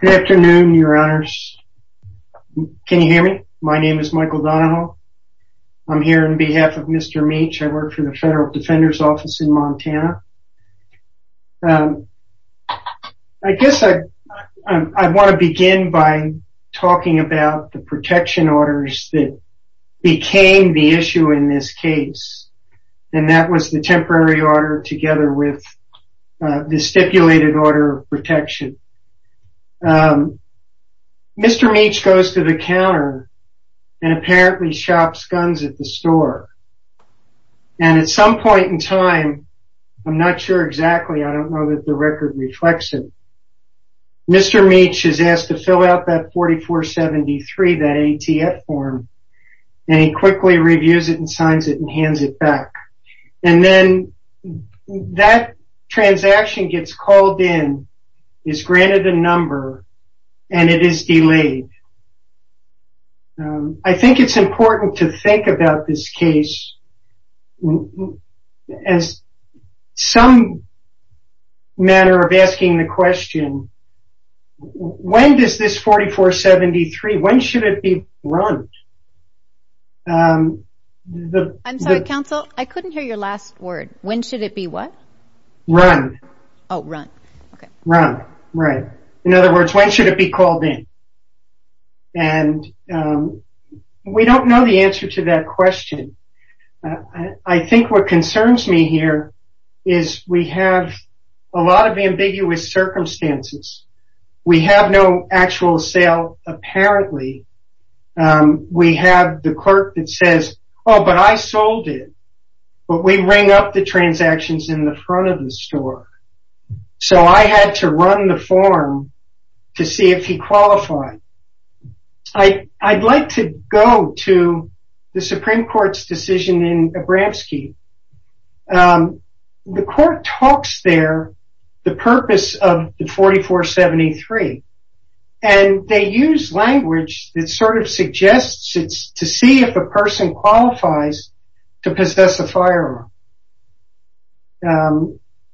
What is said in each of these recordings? Good afternoon, your honors. Can you hear me? My name is Michael Donahoe. I'm here on behalf of Mr. Meech. I work for the Federal Defender's Office in Montana. I guess I want to begin by talking about the protection orders that became the issue in this case, and that was the temporary order together with the stipulated order of protection. Um, Mr. Meech goes to the counter and apparently shops guns at the store, and at some point in time, I'm not sure exactly, I don't know that the record reflects it, Mr. Meech is asked to fill out that 4473, that ATF form, and he quickly reviews it and signs it and hands it back. And then that transaction gets called in, is granted a number, and it is delayed. I think it's important to think about this case as some manner of asking the question, when does this 4473, when should it be run? Um, the... I'm sorry, counsel, I couldn't hear your last word. When should it be what? Run. Oh, run, okay. Run, right. In other words, when should it be called in? And we don't know the answer to that question. I think what concerns me here is we have a lot of ambiguous circumstances. We have no actual sale, apparently. We have the clerk that says, oh, but I sold it. But we ring up the transactions in the front of the store. So I had to run the form to see if he qualified. I'd like to go to the Supreme Court's decision in Abramski. The court talks there, the purpose of the 4473, and they use language that sort of suggests it's to see if a person qualifies to possess a firearm.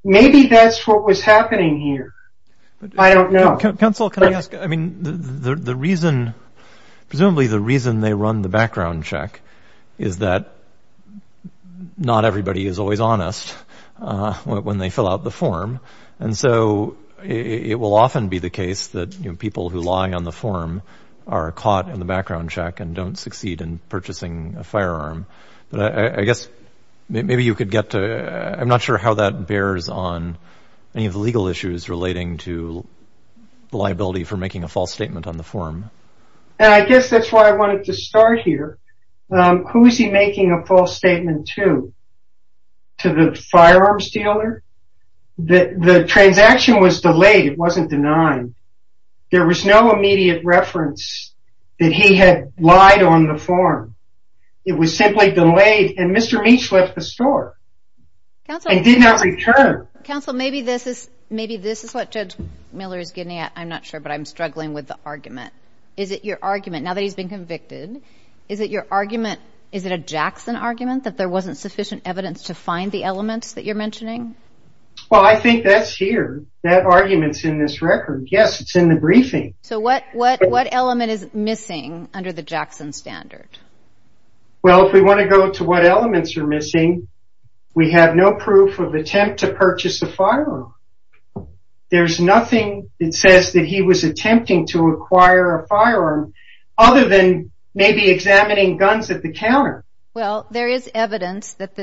Maybe that's what was happening here. I don't know. Counsel, can I ask, I mean, the reason, presumably the reason they run the background check is that not everybody is always honest when they fill out the form. And so it will often be the case that people who lie on the form are caught in the background check and don't succeed in purchasing a firearm. But I guess maybe you could get to, I'm not sure how that bears on any of the legal issues relating to the liability for making a false statement on the form. And I guess that's why I wanted to start here. Who is he making a false statement to? To the firearms dealer? The transaction was delayed. It wasn't denied. There was no immediate reference that he had lied on the form. It was simply delayed. And Mr. Meech left the store and did not return. Counsel, maybe this is what Judge Miller is getting at. I'm not sure, but I'm struggling with the argument. Is it your argument, now that he's been convicted, is it your argument, is it a Jackson argument that there wasn't sufficient evidence to find the elements that you're mentioning? Well, I think that's here. That argument's in this record. Yes, it's in the briefing. So what element is missing under the Jackson standard? Well, if we want to go to what firearm? There's nothing that says that he was attempting to acquire a firearm, other than maybe examining guns at the counter. Well, there is evidence that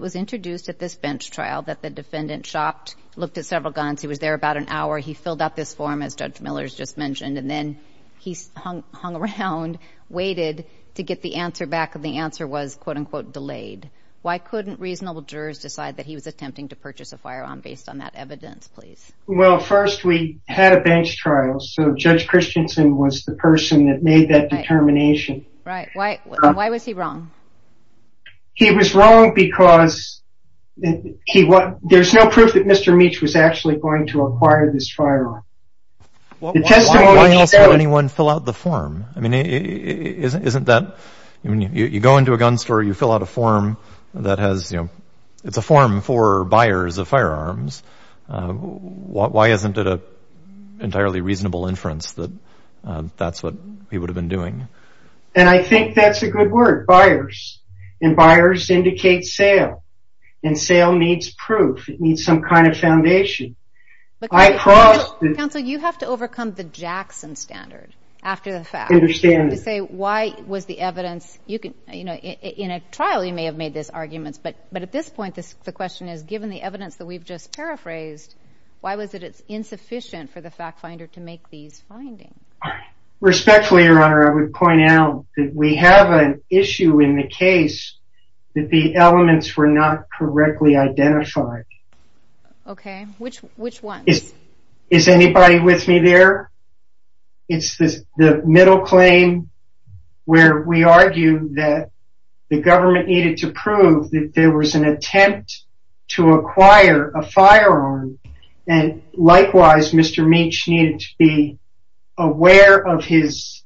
was introduced at this bench trial that the defendant shopped, looked at several guns. He was there about an hour. He filled out this form, as Judge Miller's just mentioned. And then he hung around, waited to get the answer back. And the answer was, quote unquote, delayed. Why couldn't reasonable jurors decide that he was attempting to purchase a firearm based on that evidence, please? Well, first, we had a bench trial. So Judge Christensen was the person that made that determination. Right. Why was he wrong? He was wrong because there's no proof that Mr. Meach was actually going to acquire this firearm. Why else would anyone fill out the form? I mean, isn't that, I mean, you go into a gun store, you fill out a form that has, you know, it's a form for buyers of firearms. Why isn't it an entirely reasonable inference that that's what he would have been doing? And I think that's a good word, buyers. And buyers indicate sale. And sale needs proof. It needs some kind of foundation. But counsel, you have to overcome the Jackson standard after the fact. To say why was the evidence, you know, in a trial you may have made these arguments. But at this point, the question is, given the evidence that we've just paraphrased, why was it insufficient for the fact finder to make these findings? Respectfully, Your Honor, I would point out that we have an issue in the case that the elements were not correctly identified. Okay. Which ones? Is anybody with me there? It's the middle claim where we argue that the government needed to prove that there was an attempt to acquire a firearm. And likewise, Mr. Meach needed to be aware of his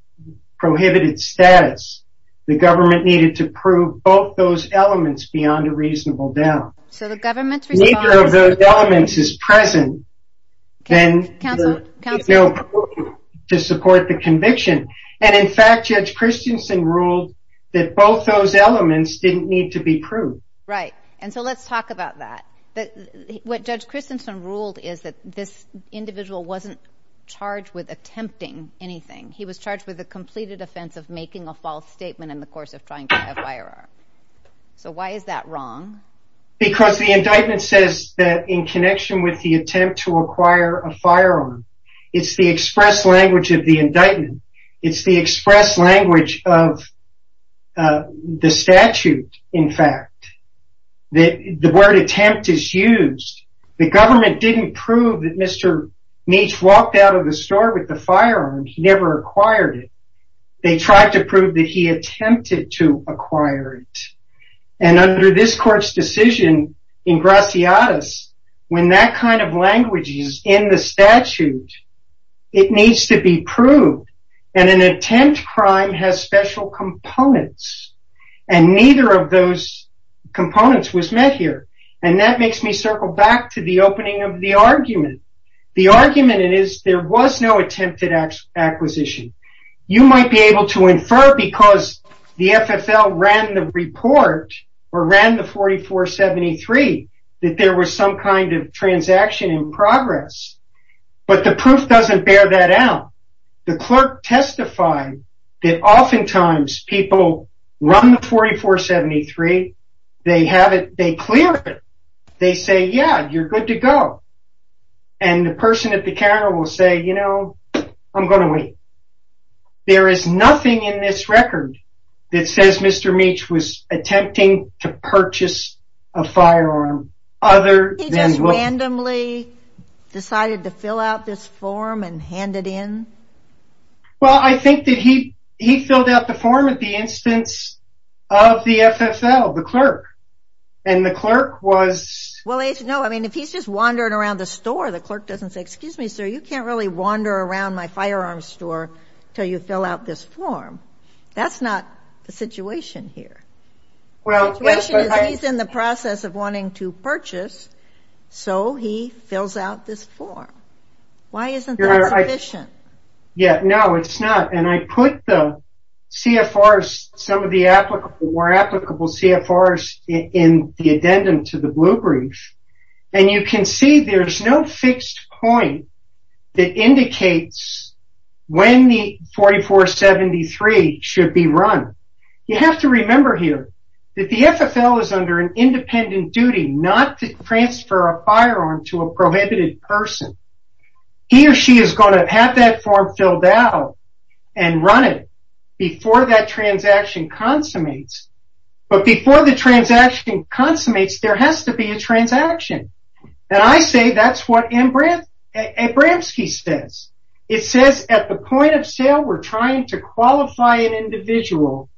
prohibited status. The government needed to prove both those elements. Neither of those elements is present to support the conviction. And in fact, Judge Christensen ruled that both those elements didn't need to be proved. Right. And so let's talk about that. What Judge Christensen ruled is that this individual wasn't charged with attempting anything. He was charged with the completed offense of making a false statement in the indictment. The indictment says that in connection with the attempt to acquire a firearm, it's the express language of the indictment. It's the express language of the statute, in fact, that the word attempt is used. The government didn't prove that Mr. Meach walked out of the store with the firearm. He never acquired it. They tried to prove that he attempted to acquire it. And under this court's decision in Graziadis, when that kind of language is in the statute, it needs to be proved. And an attempt crime has special components. And neither of those components was met here. And that makes me circle back to the opening of the argument. The argument is there was no attempted acquisition. You might be able to infer because the FFL ran the report, or ran the 4473, that there was some kind of transaction in progress. But the proof doesn't bear that out. The clerk testified that oftentimes people run the 4473, they have it, they clear it. They say, yeah, you're good to go. And the person at the counter will say, you know, I'm going to wait. There is nothing in this record that says Mr. Meach was attempting to purchase a firearm other than... He just randomly decided to fill out this form and hand it in? Well, I think that he filled out the form at the instance of the FFL, the clerk. And the clerk was... Well, no, I mean, if he's just wandering around the store, the clerk doesn't say, excuse me, sir, you can't really wander around my firearms store till you fill out this form. That's not the situation here. Well, he's in the process of wanting to purchase. So he fills out this form. Why isn't that sufficient? Yeah, no, it's not. And I put the CFRs, some of the more applicable CFRs in the addendum to the blue brief. And you can see there's no fixed point that indicates when the 4473 should be run. You have to remember here that the FFL is under an independent duty not to transfer a firearm to a prohibited person. He or she is going to have that form filled out and run it before that transaction consummates. There has to be a transaction. And I say that's what M. Bramski says. It says at the point of sale, we're trying to qualify an individual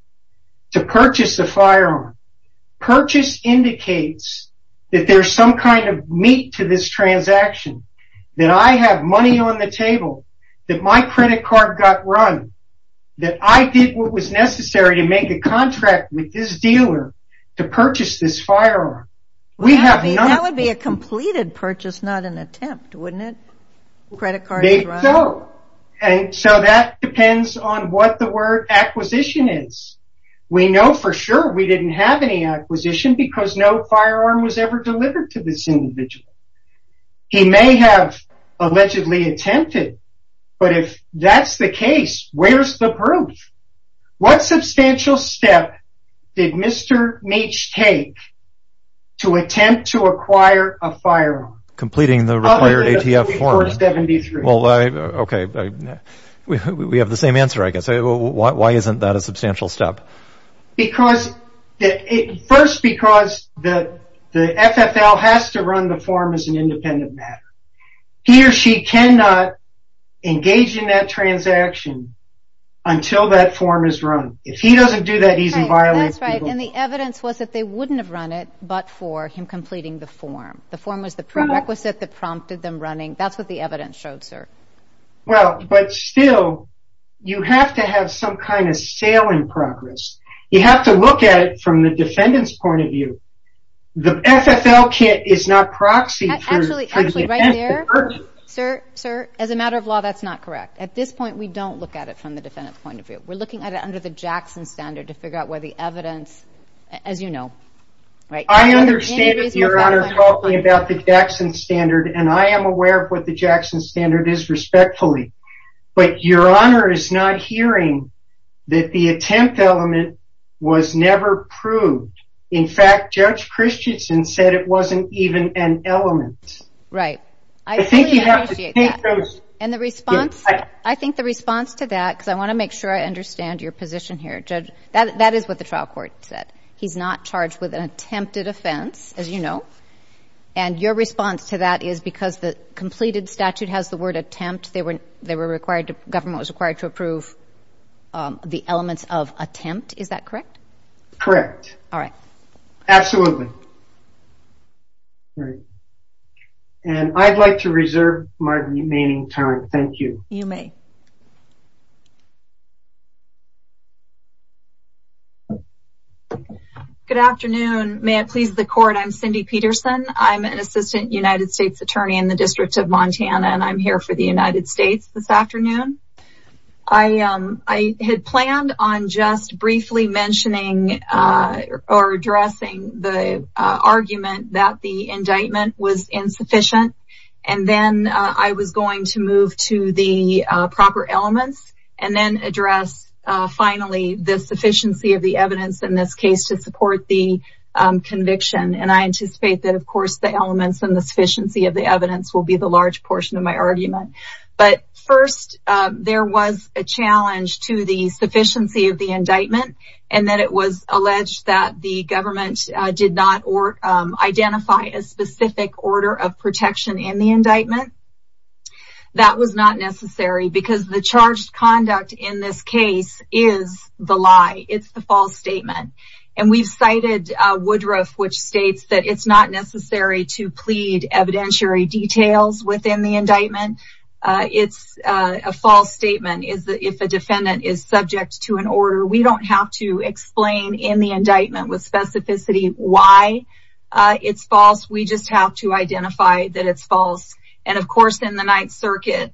to purchase a firearm. Purchase indicates that there's some kind of meat to this transaction, that I have money on the table, that my credit card got run, that I did what was necessary to make a contract with this person to purchase this firearm. That would be a completed purchase, not an attempt, wouldn't it? No. And so that depends on what the word acquisition is. We know for sure we didn't have any acquisition because no firearm was ever delivered to this individual. He may have allegedly attempted, but if that's the case, where's the proof? What substantial step did Mr. Meech take to attempt to acquire a firearm? Completing the required ATF form. Okay, we have the same answer, I guess. Why isn't that a substantial step? First, because the FFL has to run the form as an independent matter. He or she cannot engage in that transaction until that form is run. If he doesn't do that, he's in violence. That's right, and the evidence was that they wouldn't have run it but for him completing the form. The form was the prerequisite that prompted them running. That's what the evidence showed, sir. Well, but still, you have to have some kind of sale in progress. You have to look at it from the defendant's point of view. The FFL kit is not proxy. Actually, right there, sir, as a matter of law, that's not correct. At this point, we don't look at it from the defendant's point of view. We're looking at it under the Jackson standard to figure out whether the evidence, as you know, right? I understand that your honor is talking about the Jackson standard, and I am aware of what the Jackson standard is, respectfully, but your honor is not hearing that the attempt element was never proved. In fact, Judge Christensen said it wasn't even an element. Right, I think you have to take those, and the response, I think the response to that, I want to make sure I understand your position here, Judge. That is what the trial court said. He's not charged with an attempted offense, as you know, and your response to that is because the completed statute has the word attempt. They were required, the government was required to approve the elements of attempt. Is that correct? Correct. All right. Absolutely. Great, and I'd like to reserve my remaining time. Thank you. You may. Good afternoon. May it please the court, I'm Cindy Peterson. I'm an assistant United States attorney in the District of Montana, and I'm here for the United States this afternoon. I had planned on just briefly mentioning or addressing the argument that the indictment was insufficient, and then I was going to move to the proper elements and then address, finally, the sufficiency of the evidence in this case to support the conviction, and I anticipate that, of course, the elements and the sufficiency of the evidence will be the large portion of my There was a challenge to the sufficiency of the indictment, and that it was alleged that the government did not identify a specific order of protection in the indictment. That was not necessary, because the charged conduct in this case is the lie. It's the false statement, and we've cited Woodruff, which states that it's not necessary to plead evidentiary details within the indictment. It's a false statement if a defendant is subject to an order. We don't have to explain in the indictment with specificity why it's false. We just have to identify that it's false, and of course, in the Ninth Circuit,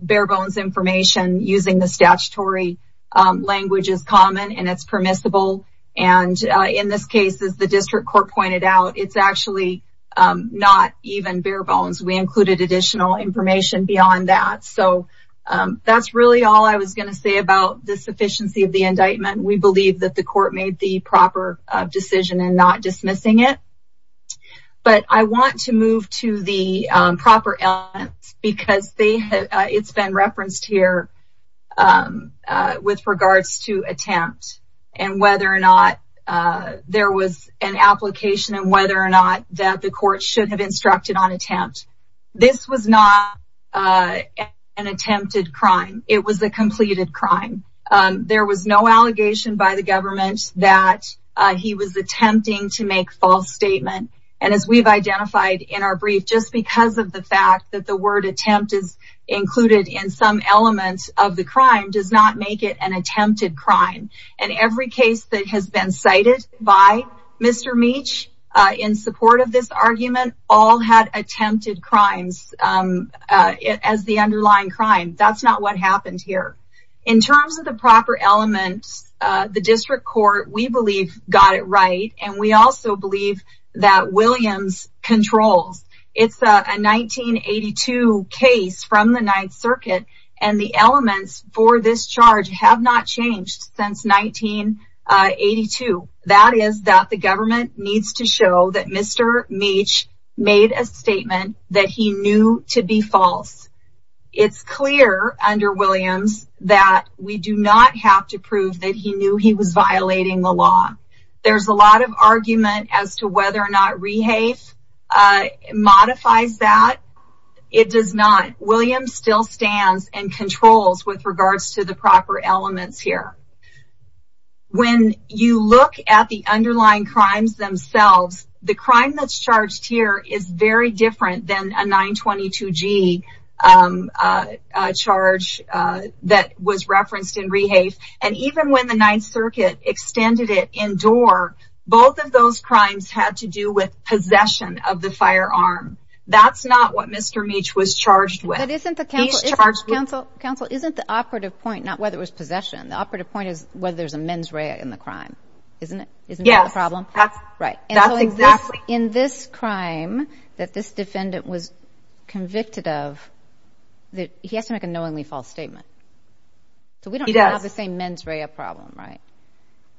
bare bones information using the statutory language is common, and it's permissible, and in this case, as the district court pointed out, it's actually not even bare bones. We included additional information beyond that, so that's really all I was going to say about the sufficiency of the indictment. We believe that the court made the proper decision in not dismissing it, but I want to move to the proper elements, because it's been referenced here with regards to attempt and whether or not there was an application and whether or not that the court should have instructed on attempt. This was not an attempted crime. It was a completed crime. There was no allegation by the government that he was attempting to make false statement, and as we've identified in our brief, just because of the fact that the word attempt is included in some elements of the indictment, Mr. Meach, in support of this argument, all had attempted crimes as the underlying crime. That's not what happened here. In terms of the proper elements, the district court, we believe, got it right, and we also believe that Williams controls. It's a 1982 case from the Ninth Circuit, and the elements for this charge have not changed since 1982. The government needs to show that Mr. Meach made a statement that he knew to be false. It's clear under Williams that we do not have to prove that he knew he was violating the law. There's a lot of argument as to whether or not Rehafe modifies that. It does not. Williams still stands and controls with regards to the proper elements here. When you look at the underlying crimes themselves, the crime that's charged here is very different than a 922G charge that was referenced in Rehafe, and even when the Ninth Circuit extended it indoor, both of those crimes had to do with possession of the firearm. That's what Mr. Meach was charged with. Counsel, isn't the operative point not whether it was possession? The operative point is whether there's a mens rea in the crime, isn't it? Isn't that the problem? In this crime that this defendant was convicted of, he has to make a knowingly false statement, so we don't have the same mens rea problem, right?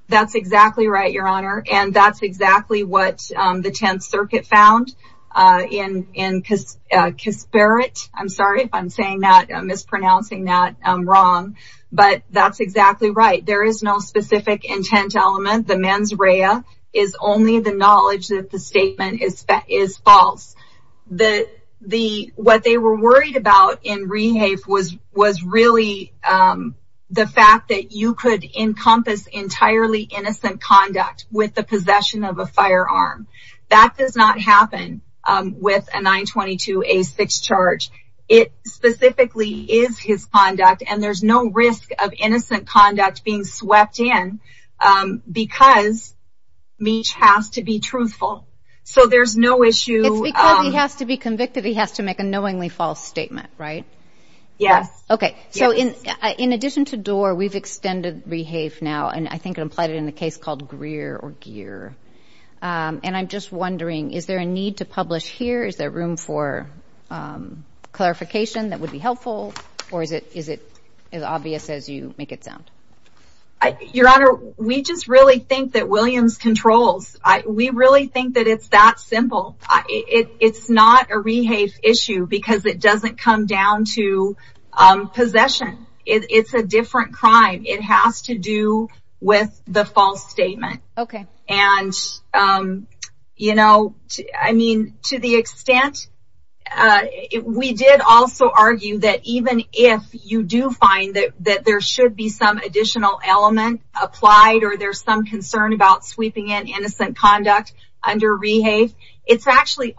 That's exactly right, Your Honor, and that's exactly what the Tenth Circuit found in Kisperit. I'm sorry if I'm mispronouncing that wrong, but that's exactly right. There is no specific intent element. The mens rea is only the knowledge that the statement is false. What they were worried about in Rehafe was really the fact that you could encompass entirely innocent conduct with the possession of a firearm. That does not happen with a 922A6 charge. It specifically is his conduct, and there's no risk of innocent conduct being swept in because Meach has to be truthful, so there's no issue. It's because he has to be convicted. He has to make a knowingly false statement, right? Yes. Okay, so in addition to Doar, we've extended Rehafe now, and I think it implied it in a case called Greer or Gear, and I'm just wondering, is there a need to publish here? Is there room for clarification that would be helpful, or is it as obvious as you make it sound? Your Honor, we just really think that Williams controls. We really think that it's that simple. It's not a Rehafe issue because it doesn't come down to possession. It's a different crime. It has to do with the false statement. Okay. And, you know, I mean, to the extent, we did also argue that even if you do find that there should be some additional element applied or there's some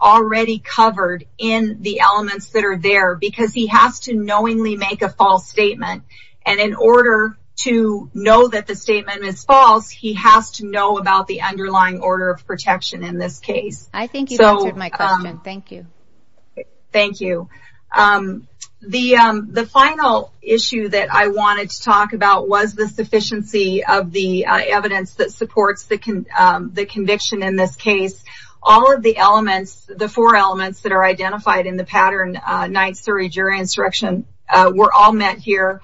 already covered in the elements that are there because he has to knowingly make a false statement, and in order to know that the statement is false, he has to know about the underlying order of protection in this case. I think you've answered my question. Thank you. Thank you. The final issue that I wanted to talk about was the sufficiency of the evidence that the four elements that are identified in the Pattern 9 Surrey Jury Instruction were all met here.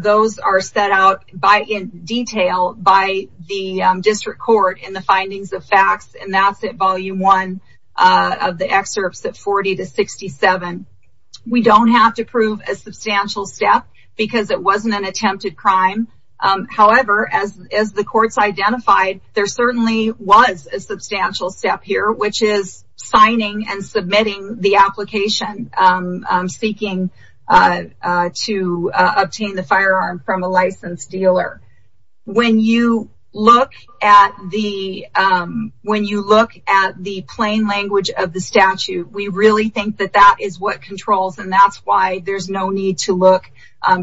Those are set out in detail by the District Court in the Findings of Facts, and that's at Volume 1 of the excerpts at 40 to 67. We don't have to prove a substantial step because it wasn't an attempted crime. However, as the courts identified, there certainly was a substantial step here, which is signing and submitting the application seeking to obtain the firearm from a licensed dealer. When you look at the plain language of the statute, we really think that that is what controls, and that's why there's no need to look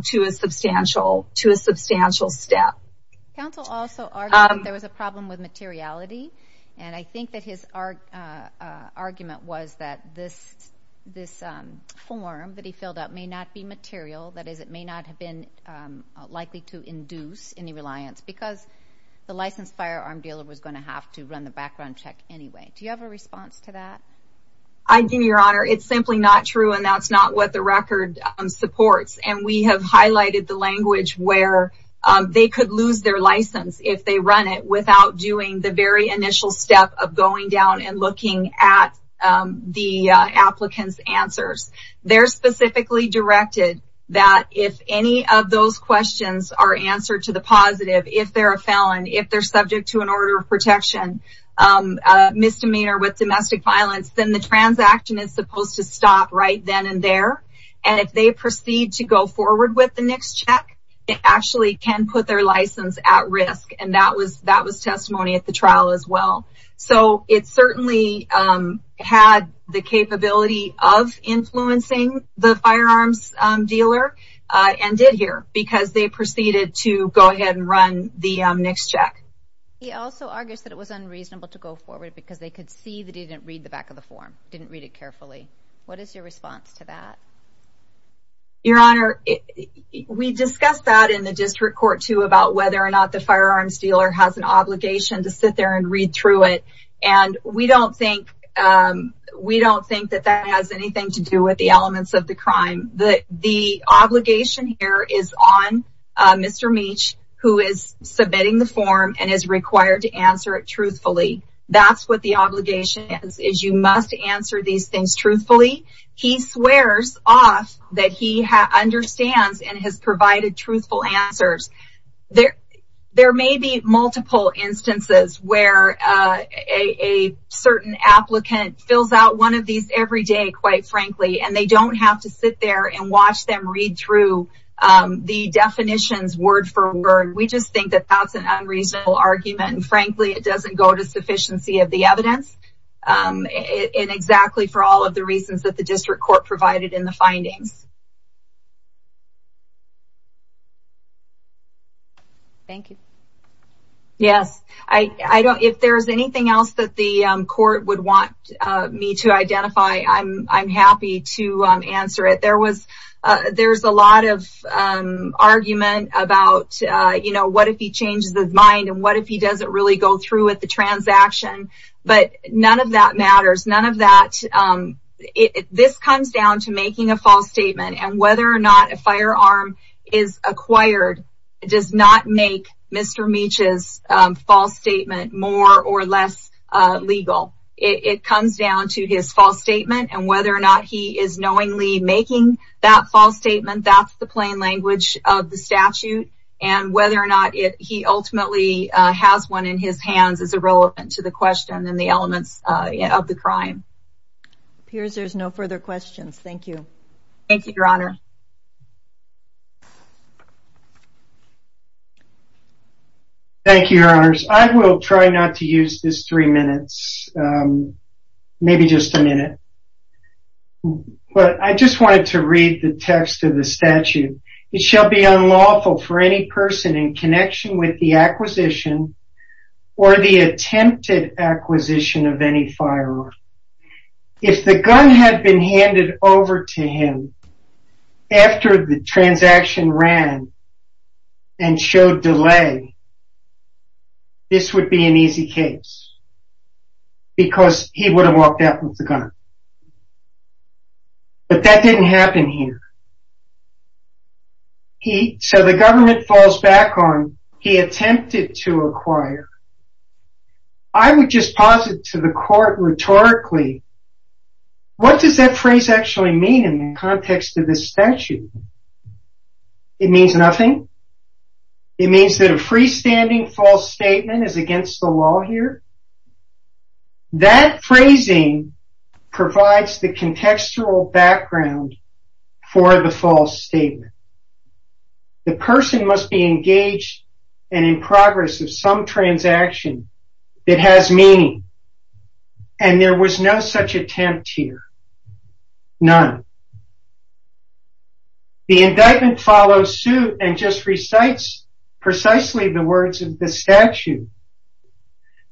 to a substantial step. Counsel also argued there was a problem with materiality, and I think that his argument was that this form that he filled out may not be material. That is, it may not have been likely to induce any reliance because the licensed firearm dealer was going to have to run the background check anyway. Do you have a response to that? I do, Your Honor. It's simply not true, and that's not what the record supports, and we have highlighted the language where they could lose their license if they run it without doing the very initial step of going down and looking at the applicant's answers. They're specifically directed that if any of those questions are answered to the positive, if they're a felon, if they're subject to an order of protection, misdemeanor with domestic violence, then the transaction is supposed to stop right then and there, and if they proceed to go forward with the next check, it actually can put their license at risk, and that was testimony at the trial as well. So, it certainly had the capability of influencing the firearms dealer and did here because they proceeded to go ahead and run the next check. He also argues that it was unreasonable to go forward because they could see that he didn't read the back of the form, didn't read it carefully. What is your response to that? Your Honor, we discussed that in the district court, too, about whether or not the firearms dealer has an obligation to sit there and read through it, and we don't think that that has anything to do with the elements of the crime. The obligation here is on Mr. Meach, who is you must answer these things truthfully. He swears off that he understands and has provided truthful answers. There may be multiple instances where a certain applicant fills out one of these every day, quite frankly, and they don't have to sit there and watch them read through the definitions word for word. We just think that that's an unreasonable argument, and frankly, it doesn't go to sufficiency of the evidence, and exactly for all of the reasons that the district court provided in the findings. Thank you. Yes, if there's anything else that the court would want me to identify, I'm happy to answer it. There's a lot of argument about, you know, if he changes his mind, and what if he doesn't really go through with the transaction, but none of that matters. This comes down to making a false statement, and whether or not a firearm is acquired does not make Mr. Meach's false statement more or less legal. It comes down to his false statement, and whether or not he is knowingly making that false statement, that's the he ultimately has one in his hands is irrelevant to the question and the elements of the crime. It appears there's no further questions. Thank you. Thank you, Your Honor. Thank you, Your Honors. I will try not to use this three minutes, maybe just a minute, but I just wanted to read the text of the statute. It shall be unlawful for any person in connection with the acquisition or the attempted acquisition of any firearm, if the gun had been handed over to him after the transaction ran and showed delay, this would be an easy case, because he would have walked out with the gun, but that didn't happen here. He, so the government falls back on he attempted to acquire. I would just posit to the court rhetorically, what does that phrase actually mean in the context of this statute? It means nothing. It means that a freestanding false statement is against the law here. That phrasing provides the contextual background for the false statement. The person must be engaged and in progress of some transaction that has meaning, and there was no such attempt here. None. The indictment follows suit and just recites precisely the words of the statute.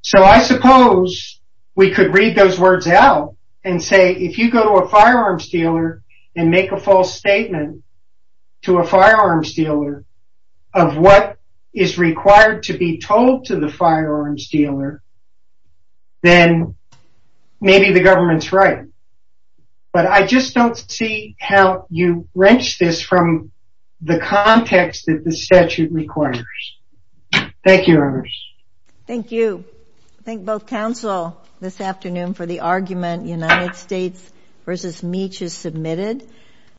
So I suppose we could read those words out and say, if you go to a firearms dealer and make a false statement to a firearms dealer of what is required to be told to the firearms dealer, then maybe the government's right, but I just don't see how you wrench this from the context that the statute requires. Thank you. Thank you. Thank both counsel this afternoon for the argument United States versus Meach has submitted.